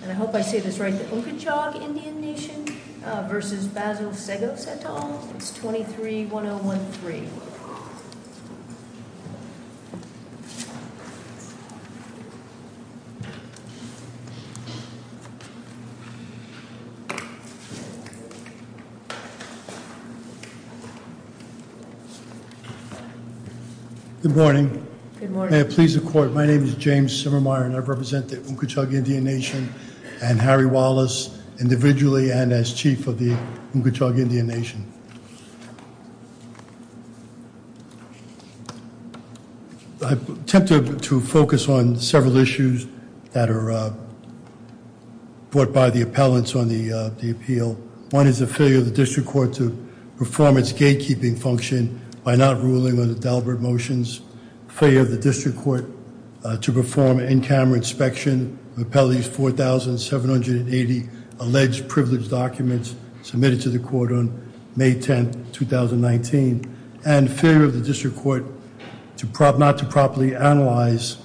And I hope I say this right, the Unkechaug Indian Nation v. Seggos, 23-1013. Good morning. Good morning. May it please the court, my name is James Simmermeyer and I represent the Unkechaug Indian Nation and Harry Wallace, individually and as chief of the Unkechaug Indian Nation. I've attempted to focus on several issues that are brought by the appellants on the appeal. One is the failure of the district court to perform its gatekeeping function by not ruling on the deliberate motions. Failure of the district court to perform in-camera inspection of Appellate 4780 alleged privileged documents submitted to the court on May 10, 2019. And failure of the district court not to properly analyze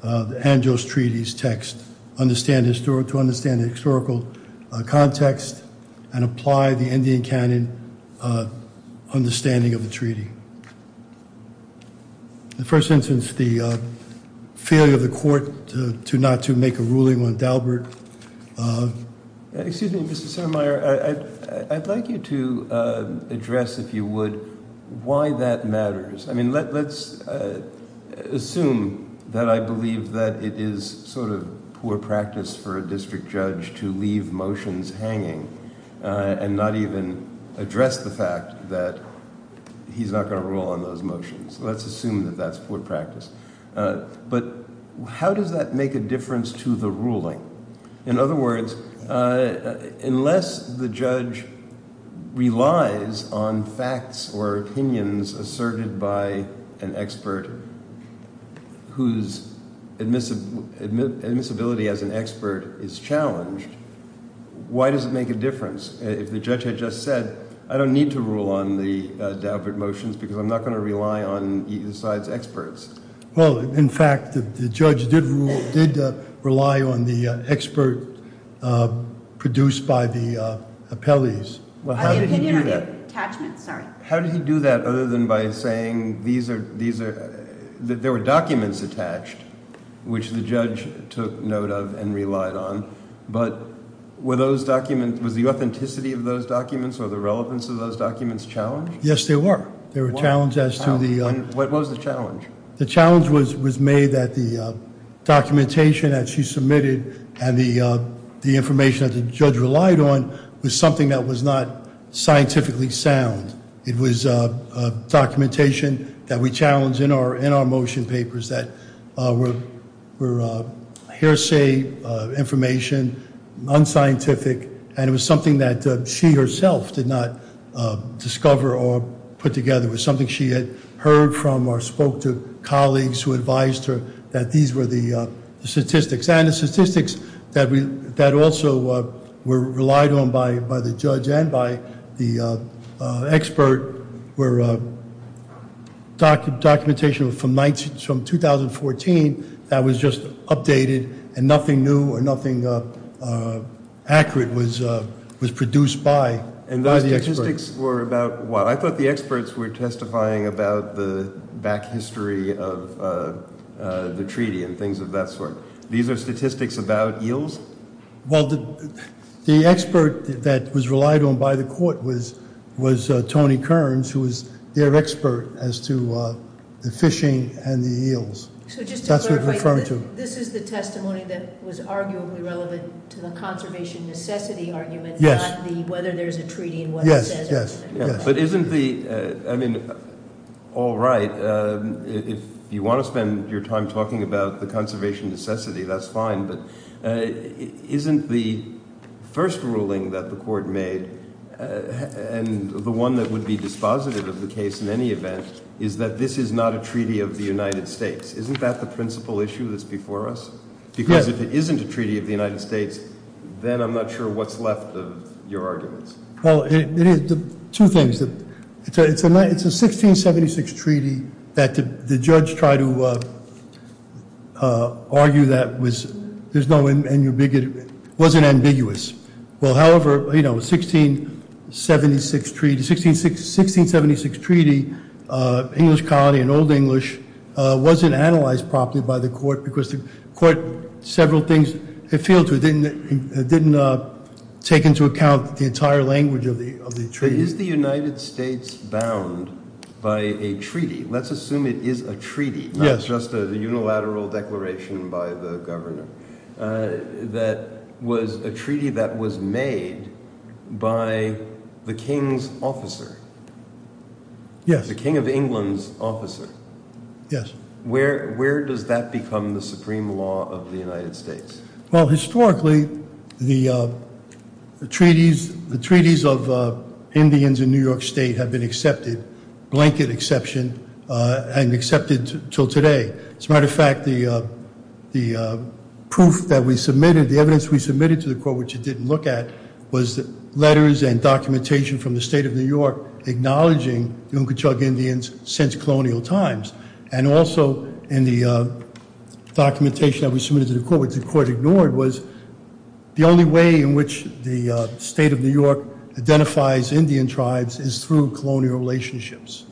the Anjos Treaty's text to understand the historical context and apply the Indian canon understanding of the treaty. The first instance, the failure of the court not to make a ruling on Dalbert. Excuse me, Mr. Simmermeyer, I'd like you to address, if you would, why that matters. I mean, let's assume that I believe that it is sort of poor practice for a district judge to leave motions hanging and not even address the fact that he's not going to rule on those motions. Let's assume that that's poor practice. But how does that make a difference to the ruling? In other words, unless the judge relies on facts or opinions asserted by an expert whose admissibility as an expert is challenged, why does it make a difference? If the judge had just said, I don't need to rule on the Dalbert motions because I'm not going to rely on either side's experts. Well, in fact, the judge did rely on the expert produced by the appellees. How did he do that? How did he do that other than by saying that there were documents attached, which the judge took note of and relied on, but was the authenticity of those documents or the relevance of those documents challenged? Yes, they were. What was the challenge? The challenge was made that the documentation that she submitted and the information that the judge relied on was something that was not scientifically sound. It was documentation that we challenge in our motion papers that were hearsay information, unscientific, and it was something that she herself did not discover or put together. It was something she had heard from or spoke to colleagues who advised her that these were the statistics. And the statistics that also were relied on by the judge and by the expert were documentation from 2014 that was just updated and nothing new or nothing accurate was produced by the experts. And those statistics were about what? I thought the experts were testifying about the back history of the treaty and things of that sort. These are statistics about eels? Well, the expert that was relied on by the court was Tony Kearns, who was their expert as to the fishing and the eels. So just to clarify, this is the testimony that was arguably relevant to the conservation necessity argument, not the whether there's a treaty and what it says. Yes, yes. But isn't the, I mean, all right, if you want to spend your time talking about the conservation necessity, that's fine, but isn't the first ruling that the court made, and the one that would be dispositive of the case in any event, is that this is not a treaty of the United States? Isn't that the principal issue that's before us? Yes. Because if it isn't a treaty of the United States, then I'm not sure what's left of your arguments. Well, two things. It's a 1676 treaty that the judge tried to argue that was, there's no in your bigot, wasn't ambiguous. Well, however, you know, 1676 treaty, 1676 treaty, English colony and Old English, wasn't analyzed properly by the court because the court, several things, it failed to, it didn't take into account the entire language of the treaty. Is the United States bound by a treaty? Let's assume it is a treaty. Yes. Not just a unilateral declaration by the governor. That was a treaty that was made by the king's officer. Yes. The king of England's officer. Yes. Where does that become the supreme law of the United States? Well, historically, the treaties of Indians in New York State have been accepted, blanket exception, and accepted until today. As a matter of fact, the proof that we submitted, the evidence we submitted to the court, which it didn't look at, was letters and documentation from the state of New York acknowledging the Unkachug Indians since colonial times. And also in the documentation that we submitted to the court, which the court ignored, was the only way in which the state of New York identifies Indian tribes is through colonial relationships.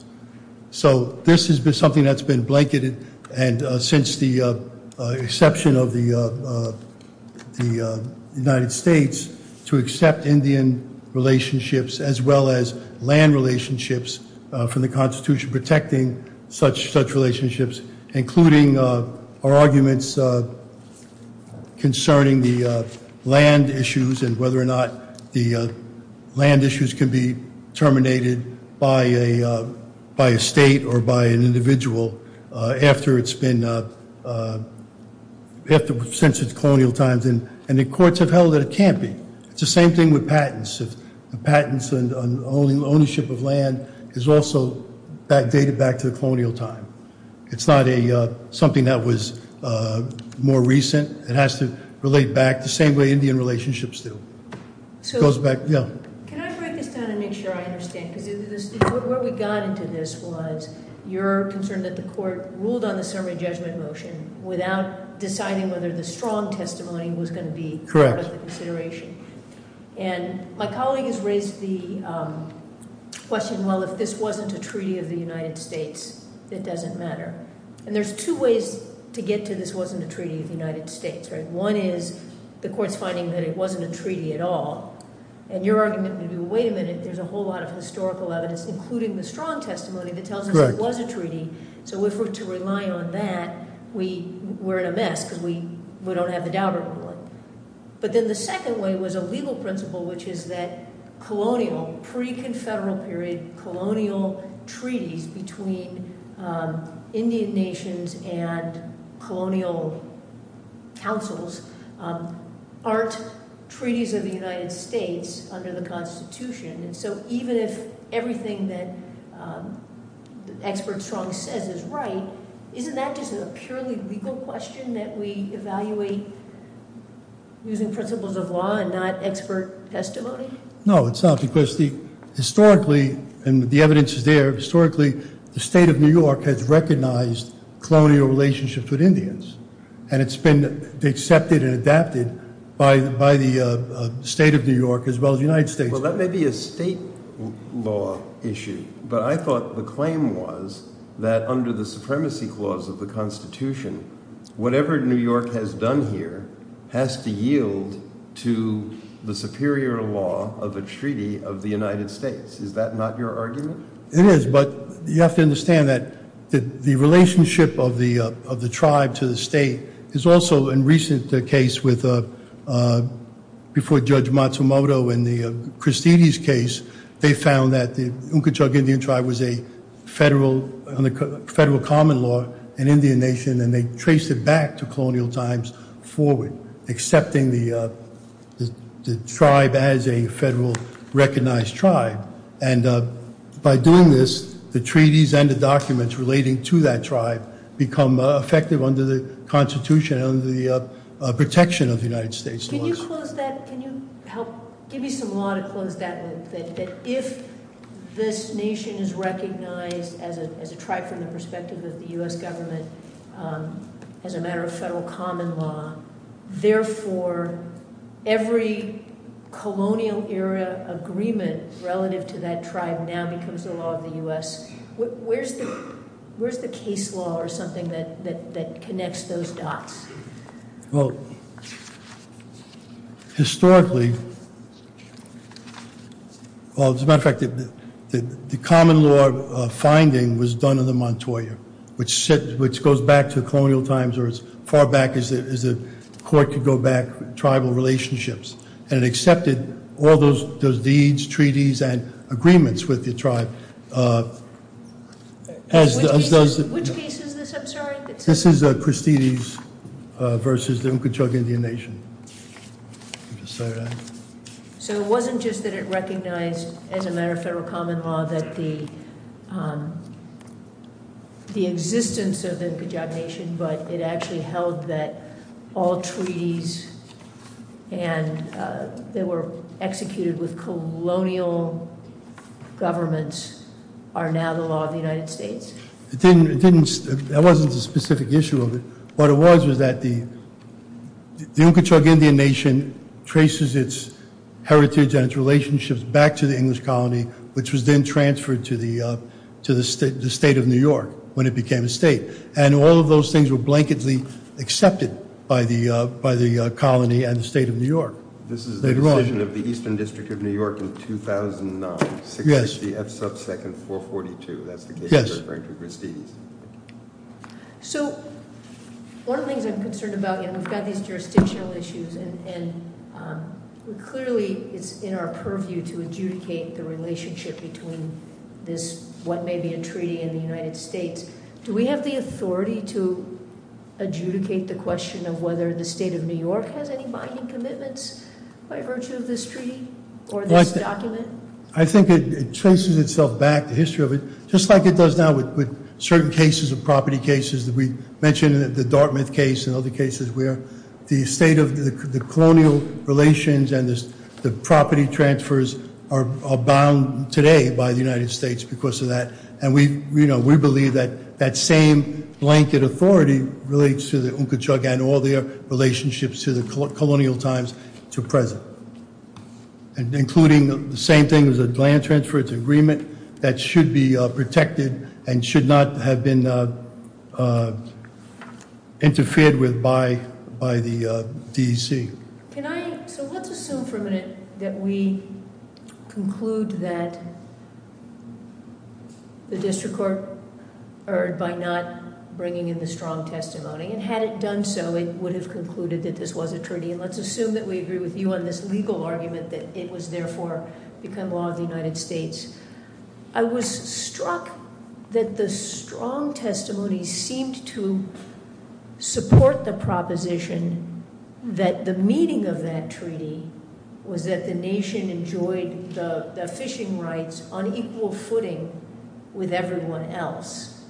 So this is something that's been blanketed, and since the exception of the United States, to accept Indian relationships as well as land relationships from the Constitution, protecting such relationships, including our arguments concerning the land issues and whether or not the land issues can be terminated by a state or by an individual after it's been, since its colonial times. And the courts have held that it can't be. It's the same thing with patents. Patents and ownership of land is also dated back to the colonial time. It's not something that was more recent. It has to relate back the same way Indian relationships do. Can I break this down and make sure I understand? Because where we got into this was your concern that the court ruled on the summary judgment motion without deciding whether the strong testimony was going to be part of the consideration. And my colleague has raised the question, well, if this wasn't a treaty of the United States, it doesn't matter. And there's two ways to get to this wasn't a treaty of the United States. One is the court's finding that it wasn't a treaty at all. And your argument would be, well, wait a minute. There's a whole lot of historical evidence, including the strong testimony that tells us it was a treaty. So if we're to rely on that, we're in a mess because we don't have the Daubert ruling. But then the second way was a legal principle, which is that colonial, pre-Confederal period, colonial treaties between Indian nations and colonial councils aren't treaties of the United States under the Constitution. And so even if everything that expert strong says is right, isn't that just a purely legal question that we evaluate using principles of law and not expert testimony? No, it's not. Because historically, and the evidence is there, historically the state of New York has recognized colonial relationships with Indians. And it's been accepted and adapted by the state of New York as well as the United States. Well, that may be a state law issue. But I thought the claim was that under the supremacy clause of the Constitution, whatever New York has done here has to yield to the superior law of a treaty of the United States. Is that not your argument? It is. But you have to understand that the relationship of the tribe to the state is also, in a recent case before Judge Matsumoto in the Christides case, they found that the Unkichug Indian tribe was a federal common law in Indian Nation and they traced it back to colonial times forward, accepting the tribe as a federal recognized tribe. And by doing this, the treaties and the documents relating to that tribe become effective under the Constitution and under the protection of the United States. Can you close that? Can you help give me some law to close that with? That if this nation is recognized as a tribe from the perspective of the U.S. government as a matter of federal common law, therefore every colonial era agreement relative to that tribe now becomes the law of the U.S. Where's the case law or something that connects those dots? Well, historically, well, as a matter of fact, the common law finding was done in the Montoya, which goes back to colonial times or as far back as the court could go back, tribal relationships. And it accepted all those deeds, treaties, and agreements with the tribe. Which case is this? I'm sorry. This is Christides versus the Nkutuk Indian Nation. So it wasn't just that it recognized as a matter of federal common law that the existence of the Nkutuk Nation, but it actually held that all treaties that were executed with colonial governments are now the law of the United States. That wasn't a specific issue of it. What it was was that the Nkutuk Indian Nation traces its heritage and its relationships back to the English colony, which was then transferred to the state of New York when it became a state. And all of those things were blanketly accepted by the colony and the state of New York. This is the decision of the Eastern District of New York in 2009, 660 F sub 2nd, 442. That's the case referring to Christides. So one of the things I'm concerned about, and we've got these jurisdictional issues, and clearly it's in our purview to adjudicate the relationship between this, what may be a treaty in the United States. Do we have the authority to adjudicate the question of whether the state of New York has any binding commitments by virtue of this treaty or this document? I think it traces itself back, the history of it, just like it does now with certain cases of property cases that we mentioned, the Dartmouth case and other cases where the colonial relations and the property transfers are bound today by the United States because of that. And we believe that that same blanket authority relates to the Nkutuk and all their relationships to the colonial times to present, including the same thing as a land transfer. It's an agreement that should be protected and should not have been interfered with by the DEC. So let's assume for a minute that we conclude that the district court erred by not bringing in the strong testimony. And had it done so, it would have concluded that this was a treaty. And let's assume that we agree with you on this legal argument that it was, therefore, become law of the United States. I was struck that the strong testimony seemed to support the proposition that the meaning of that treaty was that the nation enjoyed the fishing rights on equal footing with everyone else,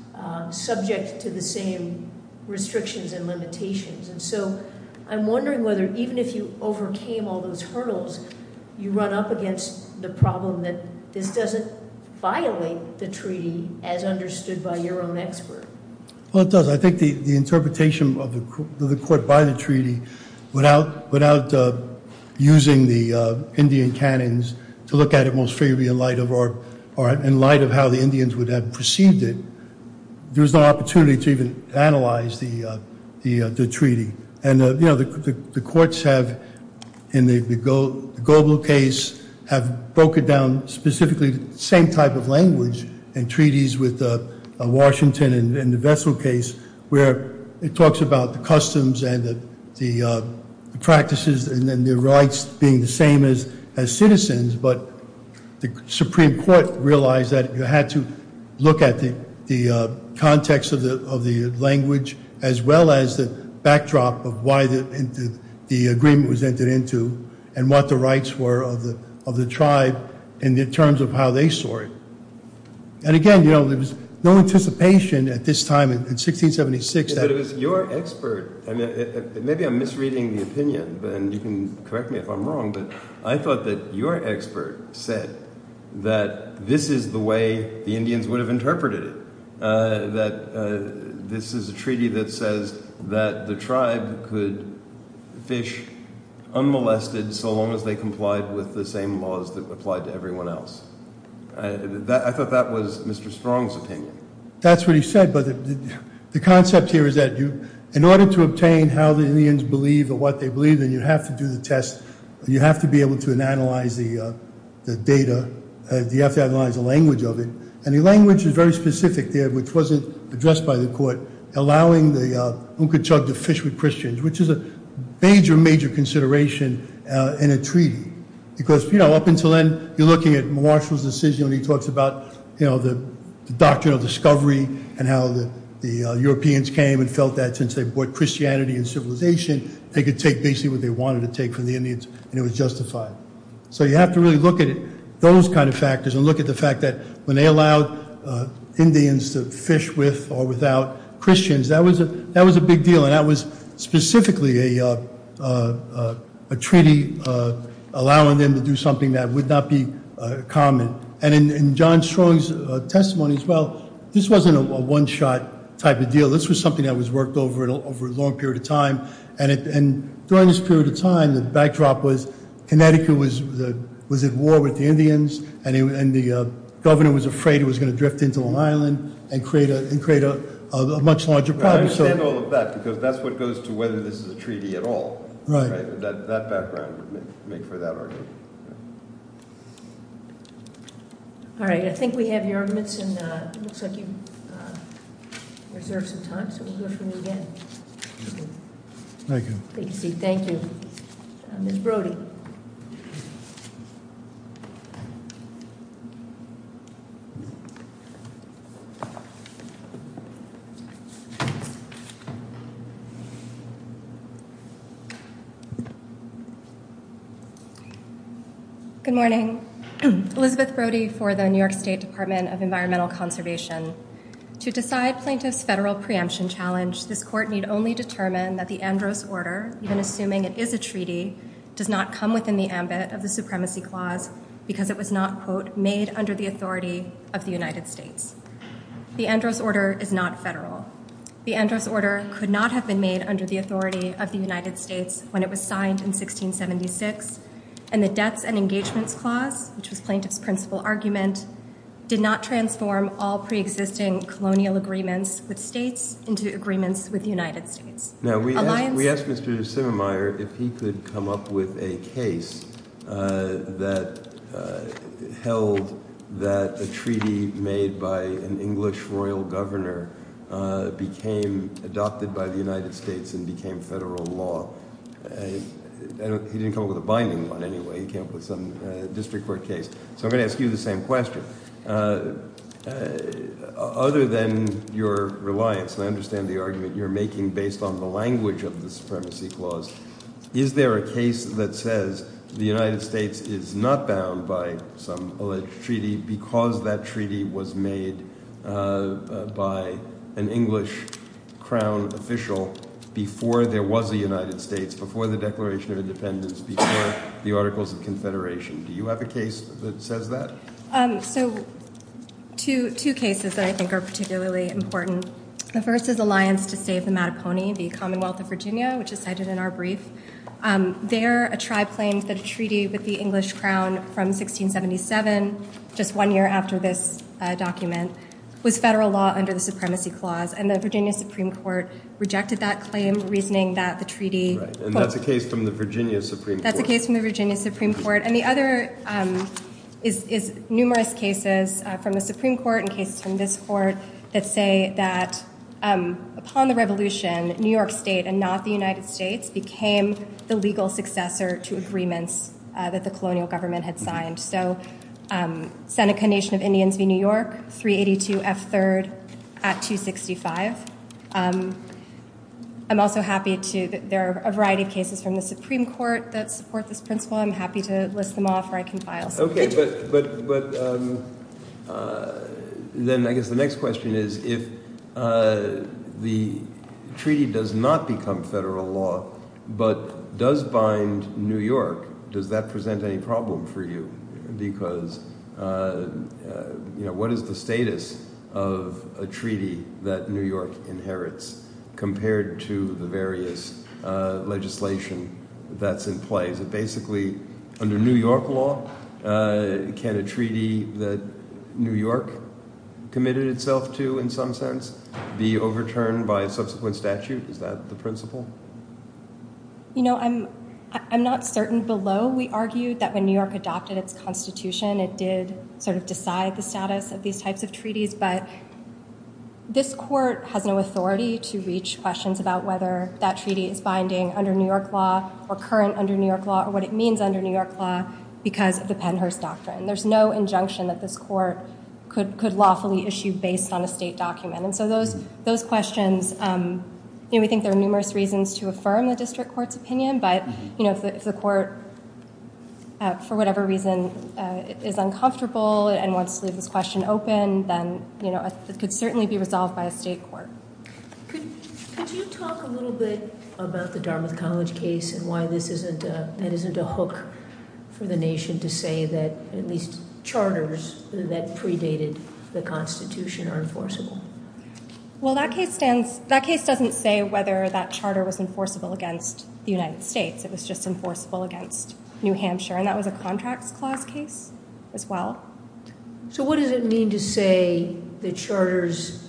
subject to the same restrictions and limitations. And so I'm wondering whether even if you overcame all those hurdles, you run up against the problem that this doesn't violate the treaty as understood by your own expert. Well, it does. I think the interpretation of the court by the treaty, without using the Indian canons to look at it most freely in light of how the Indians would have perceived it, there's no opportunity to even analyze the treaty. And the courts have, in the Goble case, have broken down specifically the same type of language in treaties with Washington in the Vessel case where it talks about the customs and the practices and then their rights being the same as citizens. But the Supreme Court realized that you had to look at the context of the language as well as the backdrop of why the agreement was entered into and what the rights were of the tribe in terms of how they saw it. And, again, you know, there was no anticipation at this time in 1676. But it was your expert. Maybe I'm misreading the opinion, and you can correct me if I'm wrong, but I thought that your expert said that this is the way the Indians would have interpreted it, that this is a treaty that says that the tribe could fish unmolested so long as they complied with the same laws that applied to everyone else. I thought that was Mr. Strong's opinion. That's what he said, but the concept here is that in order to obtain how the Indians believe or what they believe, then you have to do the test. You have to be able to analyze the data. You have to analyze the language of it, and the language is very specific there, which wasn't addressed by the court, allowing the Unka Chug to fish with Christians, which is a major, major consideration in a treaty. Because, you know, up until then, you're looking at Marshall's decision when he talks about, you know, the doctrine of discovery and how the Europeans came and felt that since they brought Christianity and civilization, they could take basically what they wanted to take from the Indians, and it was justified. So you have to really look at it, those kind of factors, and look at the fact that when they allowed Indians to fish with or without Christians, that was a big deal, and that was specifically a treaty allowing them to do something that would not be common. And in John Strong's testimony as well, this wasn't a one-shot type of deal. This was something that was worked over a long period of time, and during this period of time, the backdrop was Connecticut was at war with the Indians, and the governor was afraid it was going to drift into Long Island and create a much larger problem. I understand all of that, because that's what goes to whether this is a treaty at all. Right. That background would make for that argument. All right. I think we have your arguments, and it looks like you reserved some time, so we'll go through them again. Thank you. Thank you. Ms. Brody. Good morning. Elizabeth Brody for the New York State Department of Environmental Conservation. To decide plaintiffs' federal preemption challenge, this court need only determine that the Andros Order, even assuming it is a treaty, does not come within the ambit of the Supremacy Clause, because it was not, quote, made under the authority of the United States. The Andros Order is not federal. The Andros Order could not have been made under the authority of the United States when it was signed in 1676, and the Debts and Engagements Clause, which was plaintiff's principal argument, did not transform all preexisting colonial agreements with states into agreements with the United States. Now, we asked Mr. Simmemeyer if he could come up with a case that held that a treaty made by an English royal governor became adopted by the United States and became federal law. He didn't come up with a binding one, anyway. He came up with some district court case. So I'm going to ask you the same question. Other than your reliance, and I understand the argument you're making based on the language of the Supremacy Clause, is there a case that says the United States is not bound by some alleged treaty because that treaty was made by an English crown official before there was a United States, before the Declaration of Independence, before the Articles of Confederation? Do you have a case that says that? So two cases that I think are particularly important. The first is Alliance to Save the Mattaponi, the Commonwealth of Virginia, which is cited in our brief. There, a tribe claims that a treaty with the English crown from 1677, just one year after this document, was federal law under the Supremacy Clause, and the Virginia Supreme Court rejected that claim, reasoning that the treaty- Right, and that's a case from the Virginia Supreme Court. That's a case from the Virginia Supreme Court. And the other is numerous cases from the Supreme Court and cases from this court that say that upon the Revolution, New York State and not the United States became the legal successor to agreements that the colonial government had signed. So Seneca Nation of Indians v. New York, 382 F. 3rd at 265. I'm also happy to- there are a variety of cases from the Supreme Court that support this principle. I'm happy to list them off, or I can file- Okay, but then I guess the next question is if the treaty does not become federal law, but does bind New York, does that present any problem for you? Because, you know, what is the status of a treaty that New York inherits compared to the various legislation that's in place? Is it basically under New York law? Can a treaty that New York committed itself to in some sense be overturned by subsequent statute? Is that the principle? You know, I'm not certain below we argued that when New York adopted its constitution, it did sort of decide the status of these types of treaties, but this court has no authority to reach questions about whether that treaty is binding under New York law or current under New York law or what it means under New York law because of the Pennhurst Doctrine. There's no injunction that this court could lawfully issue based on a state document. And so those questions, you know, we think there are numerous reasons to affirm the district court's opinion, but, you know, if the court, for whatever reason, is uncomfortable and wants to leave this question open, then, you know, it could certainly be resolved by a state court. Could you talk a little bit about the Dartmouth College case and why that isn't a hook for the nation to say that at least charters that predated the constitution are enforceable? Well, that case doesn't say whether that charter was enforceable against the United States. It was just enforceable against New Hampshire, and that was a contracts clause case as well. So what does it mean to say the charters,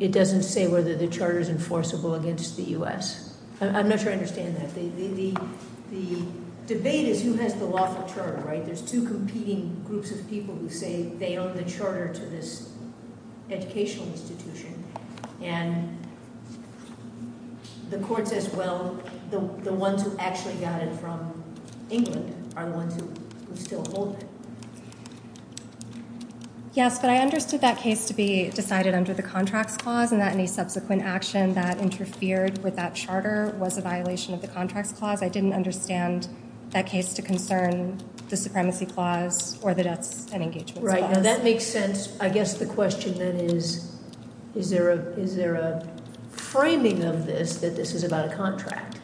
it doesn't say whether the charter is enforceable against the U.S.? I'm not sure I understand that. The debate is who has the lawful term, right? There's two competing groups of people who say they own the charter to this educational institution, and the court says, well, the ones who actually got it from England are the ones who still hold it. Yes, but I understood that case to be decided under the contracts clause and that any subsequent action that interfered with that charter was a violation of the contracts clause. I didn't understand that case to concern the supremacy clause or the debts and engagements clause. Right, now that makes sense. I guess the question then is, is there a framing of this that this is about a contract?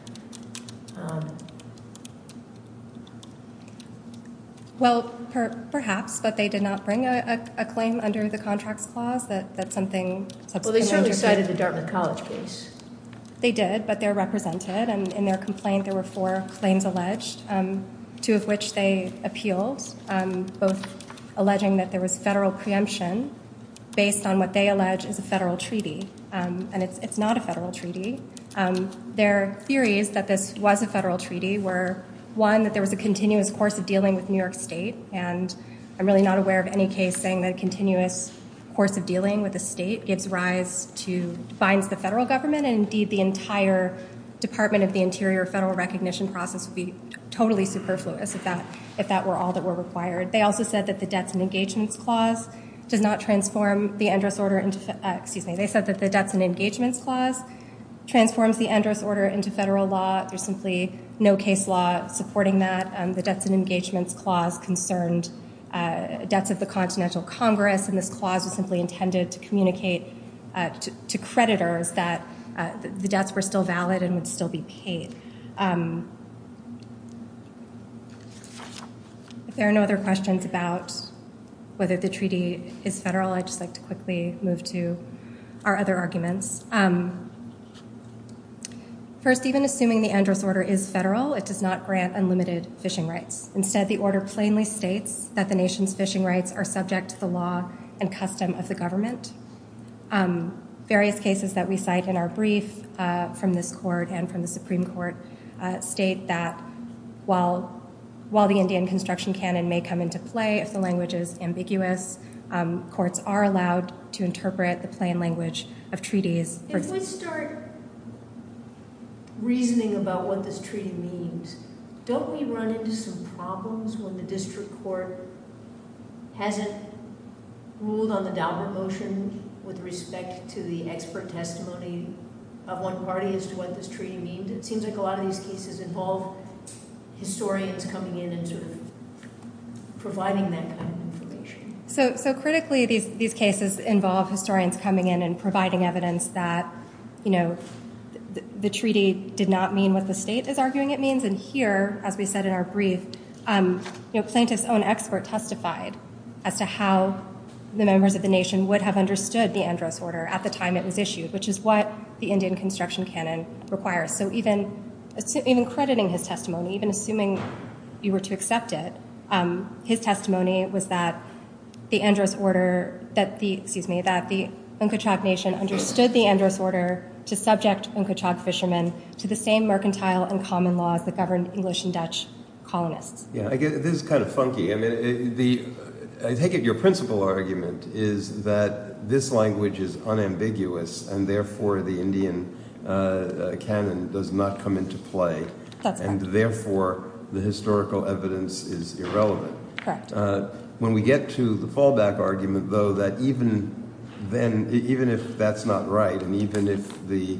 Well, perhaps, but they did not bring a claim under the contracts clause that something- Well, they certainly cited the Dartmouth College case. They did, but they're represented, and in their complaint there were four claims alleged, two of which they appealed, both alleging that there was federal preemption based on what they allege is a federal treaty, and it's not a federal treaty. Their theory is that this was a federal treaty were, one, that there was a continuous course of dealing with New York State, and I'm really not aware of any case saying that a continuous course of dealing with a state gives rise to- Department of the Interior federal recognition process would be totally superfluous if that were all that were required. They also said that the debts and engagements clause does not transform the Endress Order into- Excuse me, they said that the debts and engagements clause transforms the Endress Order into federal law. There's simply no case law supporting that. The debts and engagements clause concerned debts of the Continental Congress, and this clause was simply intended to communicate to creditors that the debts were still valid and would still be paid. If there are no other questions about whether the treaty is federal, I'd just like to quickly move to our other arguments. First, even assuming the Endress Order is federal, it does not grant unlimited fishing rights. Instead, the order plainly states that the nation's fishing rights are subject to the law and custom of the government. Various cases that we cite in our brief from this court and from the Supreme Court state that, while the Indian construction canon may come into play if the language is ambiguous, courts are allowed to interpret the plain language of treaties- If we start reasoning about what this treaty means, don't we run into some problems when the district court hasn't ruled on the Daubert motion with respect to the expert testimony of one party as to what this treaty means? It seems like a lot of these cases involve historians coming in and sort of providing that kind of information. So critically, these cases involve historians coming in and providing evidence that the treaty did not mean what the state is arguing it means. And here, as we said in our brief, Plaintiff's own expert testified as to how the members of the nation would have understood the Endress Order at the time it was issued, which is what the Indian construction canon requires. So even crediting his testimony, even assuming you were to accept it, his testimony was that the Endress Order, excuse me, that the Nkotchak nation understood the Endress Order to subject Nkotchak fishermen to the same mercantile and common laws that governed English and Dutch colonists. This is kind of funky. I take it your principal argument is that this language is unambiguous and therefore the Indian canon does not come into play. That's correct. And therefore the historical evidence is irrelevant. When we get to the fallback argument, though, that even if that's not right and even if the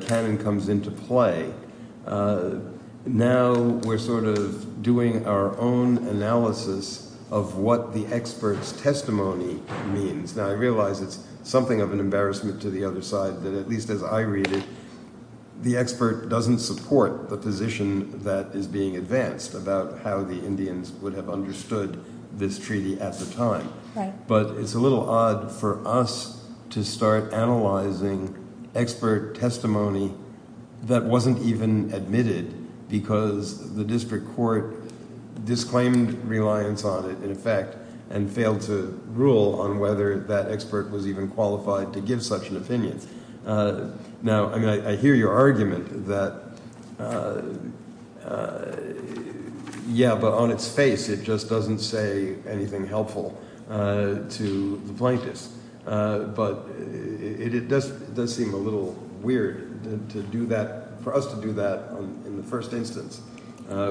canon comes into play, now we're sort of doing our own analysis of what the expert's testimony means. Now, I realize it's something of an embarrassment to the other side that at least as I read it, the expert doesn't support the position that is being advanced about how the Indians would have understood this treaty at the time. But it's a little odd for us to start analyzing expert testimony that wasn't even admitted because the district court disclaimed reliance on it, in effect, and failed to rule on whether that expert was even qualified to give such an opinion. Now, I hear your argument that, yeah, but on its face it just doesn't say anything helpful to the plaintiffs. But it does seem a little weird to do that – for us to do that in the first instance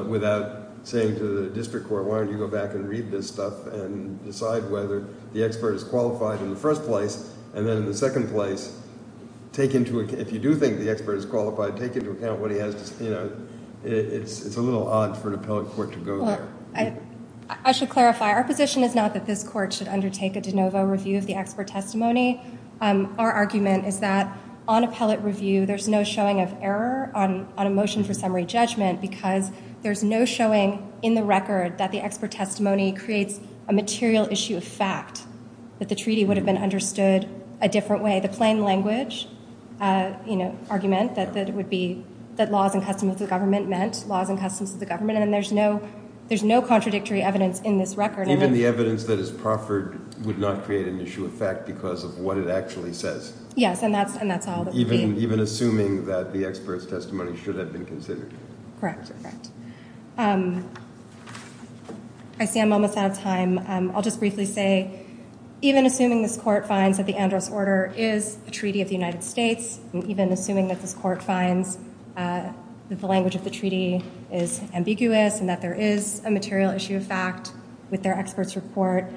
without saying to the district court, why don't you go back and read this stuff and decide whether the expert is qualified in the first place and then in the second place, if you do think the expert is qualified, take into account what he has to say. It's a little odd for an appellate court to go there. I should clarify, our position is not that this court should undertake a de novo review of the expert testimony. Our argument is that on appellate review there's no showing of error on a motion for summary judgment because there's no showing in the record that the expert testimony creates a material issue of fact, that the treaty would have been understood a different way. The plain language argument that laws and customs of the government meant laws and customs of the government, and there's no contradictory evidence in this record. Even the evidence that is proffered would not create an issue of fact because of what it actually says. Yes, and that's all. Even assuming that the expert's testimony should have been considered. Correct, correct. I see I'm almost out of time. I'll just briefly say, even assuming this court finds that the Andros Order is a treaty of the United States, and even assuming that this court finds that the language of the treaty is ambiguous and that there is a material issue of fact with their expert's report,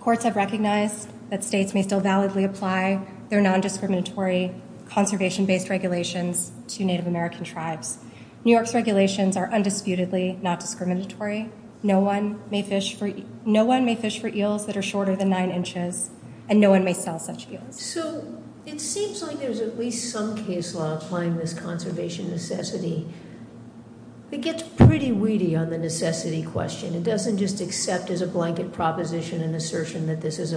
courts have recognized that states may still validly apply their non-discriminatory conservation-based regulations to Native American tribes. New York's regulations are undisputedly not discriminatory. No one may fish for eels that are shorter than nine inches, and no one may sell such eels. So it seems like there's at least some case law applying this conservation necessity. It gets pretty weedy on the necessity question. It doesn't just accept as a blanket proposition an assertion that this is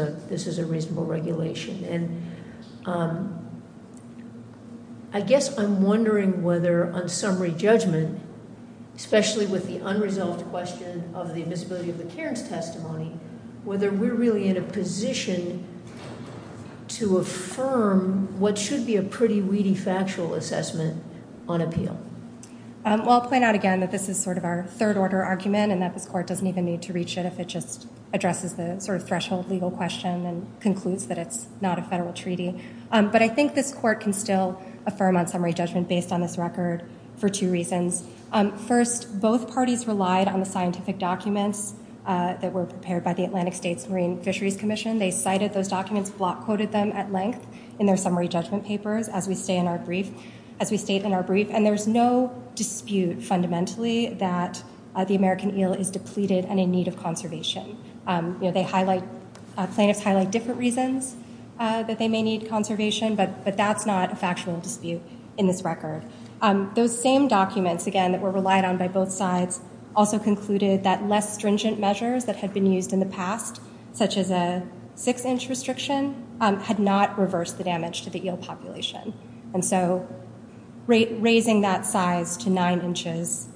a reasonable regulation. And I guess I'm wondering whether on summary judgment, especially with the unresolved question of the invisibility of the Cairns testimony, whether we're really in a position to affirm what should be a pretty weedy factual assessment on appeal. Well, I'll point out again that this is sort of our third-order argument and that this court doesn't even need to reach it if it just addresses the sort of threshold legal question and concludes that it's not a federal treaty. But I think this court can still affirm on summary judgment based on this record for two reasons. First, both parties relied on the scientific documents that were prepared by the Atlantic States Marine Fisheries Commission. They cited those documents, block quoted them at length in their summary judgment papers as we state in our brief. And there's no dispute fundamentally that the American eel is depleted and in need of conservation. Plaintiffs highlight different reasons that they may need conservation, but that's not a factual dispute in this record. Those same documents, again, that were relied on by both sides also concluded that less stringent measures that had been used in the past, such as a six-inch restriction, had not reversed the damage to the eel population. And so raising that size to nine inches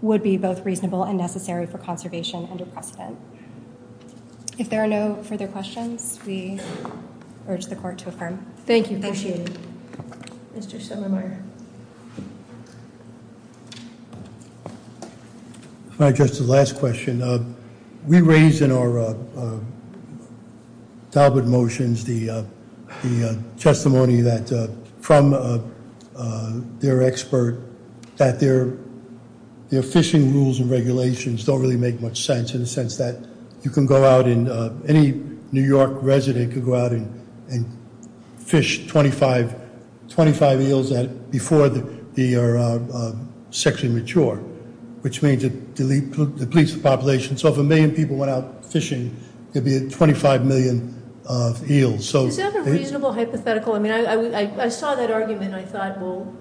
would be both reasonable and necessary for conservation under precedent. If there are no further questions, we urge the court to affirm. Thank you. Appreciate it. Mr. Schillermeyer. If I could address the last question. We raised in our Talbot motions the testimony that from their expert that their fishing rules and regulations don't really make much sense in the sense that you can go out and any New York resident can go out and fish 25 eels before they are sexually mature, which means it depletes the population. So if a million people went out fishing, there'd be 25 million eels. So- Is that a reasonable hypothetical? I mean, I saw that argument and I thought, well,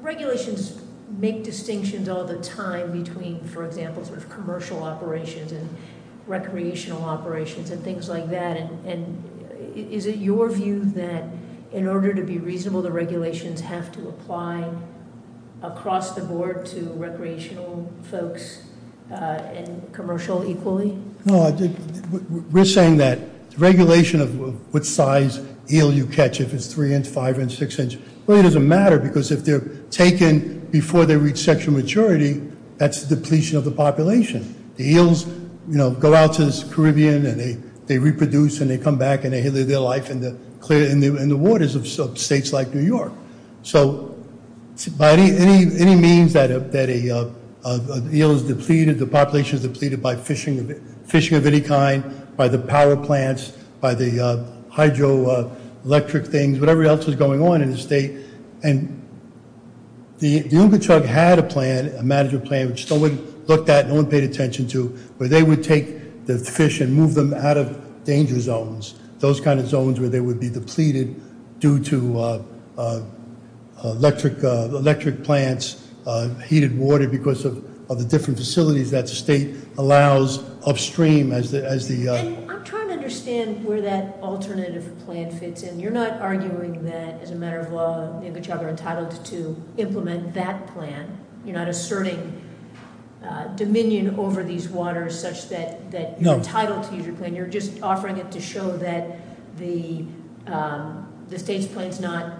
regulations make distinctions all the time between, for example, sort of commercial operations and recreational operations and things like that. And is it your view that in order to be reasonable, the regulations have to apply across the board to recreational folks and commercial equally? No, we're saying that regulation of what size eel you catch, if it's three inch, five inch, six inch. Well, it doesn't matter because if they're taken before they reach sexual maturity, that's the depletion of the population. The eels go out to the Caribbean and they reproduce and they come back and they live their life in the waters of states like New York. So by any means that an eel is depleted, the population is depleted by fishing of any kind, by the power plants, by the hydroelectric things, whatever else is going on in the state. And the Oonga Trug had a plan, a management plan, which no one looked at, no one paid attention to, where they would take the fish and move them out of danger zones. Those kind of zones where they would be depleted due to electric plants, heated water because of the different facilities that the state allows upstream as the- And I'm trying to understand where that alternative plan fits in. You're not arguing that as a matter of law, the Oonga Trug are entitled to implement that plan. You're not asserting dominion over these waters such that you're entitled to use your plan. You're just offering it to show that the state's plan's not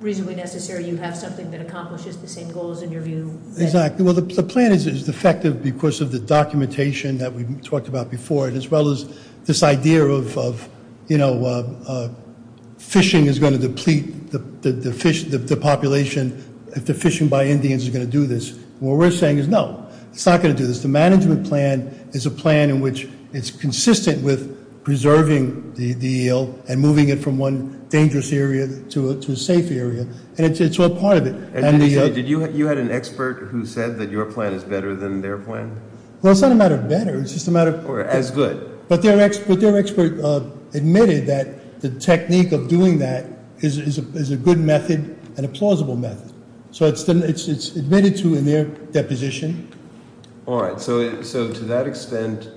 reasonably necessary. You have something that accomplishes the same goals in your view. Exactly. Well, the plan is effective because of the documentation that we've talked about before. As well as this idea of fishing is going to deplete the population if the fishing by Indians is going to do this. What we're saying is no, it's not going to do this. The management plan is a plan in which it's consistent with preserving the eel and moving it from one dangerous area to a safe area, and it's all part of it. And you had an expert who said that your plan is better than their plan? Well, it's not a matter of better, it's just a matter of- As good. But their expert admitted that the technique of doing that is a good method and a plausible method. So it's admitted to in their deposition. All right, so to that extent,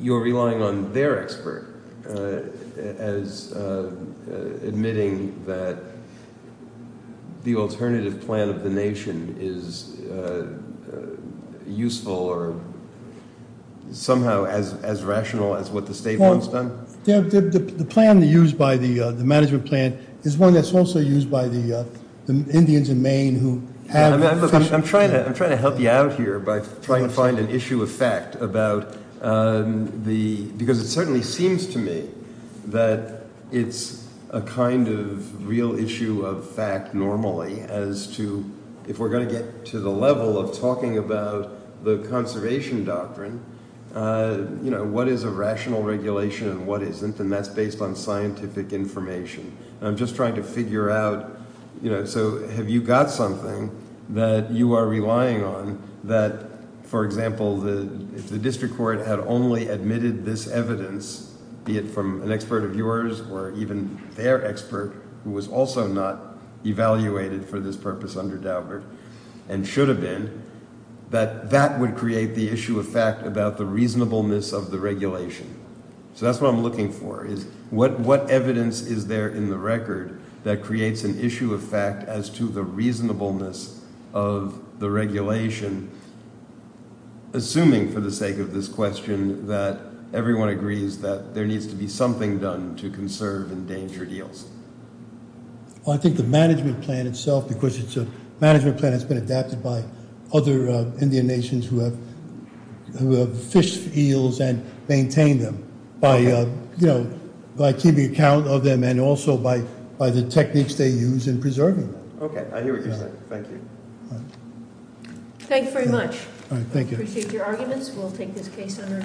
you're relying on their expert as admitting that the alternative plan of the nation is useful or somehow as rational as what the state wants done? The plan used by the management plan is one that's also used by the Indians in Maine who have- I'm trying to help you out here by trying to find an issue of fact about the, because it certainly seems to me that it's a kind of real issue of fact normally as to, if we're going to get to the level of talking about the conservation doctrine, what is a rational regulation and what isn't, and that's based on scientific information. I'm just trying to figure out, so have you got something that you are relying on that, for example, if the district court had only admitted this evidence, be it from an expert of yours or even their expert who was also not evaluated for this purpose under Daubert and should have been, that that would create the issue of fact about the reasonableness of the regulation? So that's what I'm looking for, is what evidence is there in the record that creates an issue of fact as to the reasonableness of the regulation, assuming for the sake of this question that everyone agrees that there needs to be something done to conserve endangered eels? I think the management plan itself, because it's a management plan that's been adapted by other Indian nations who have fished eels and maintained them by keeping account of them and also by the techniques they use in preserving them. Okay, I hear what you're saying. Thank you. Thank you very much. I appreciate your arguments. We'll take this case under advisement.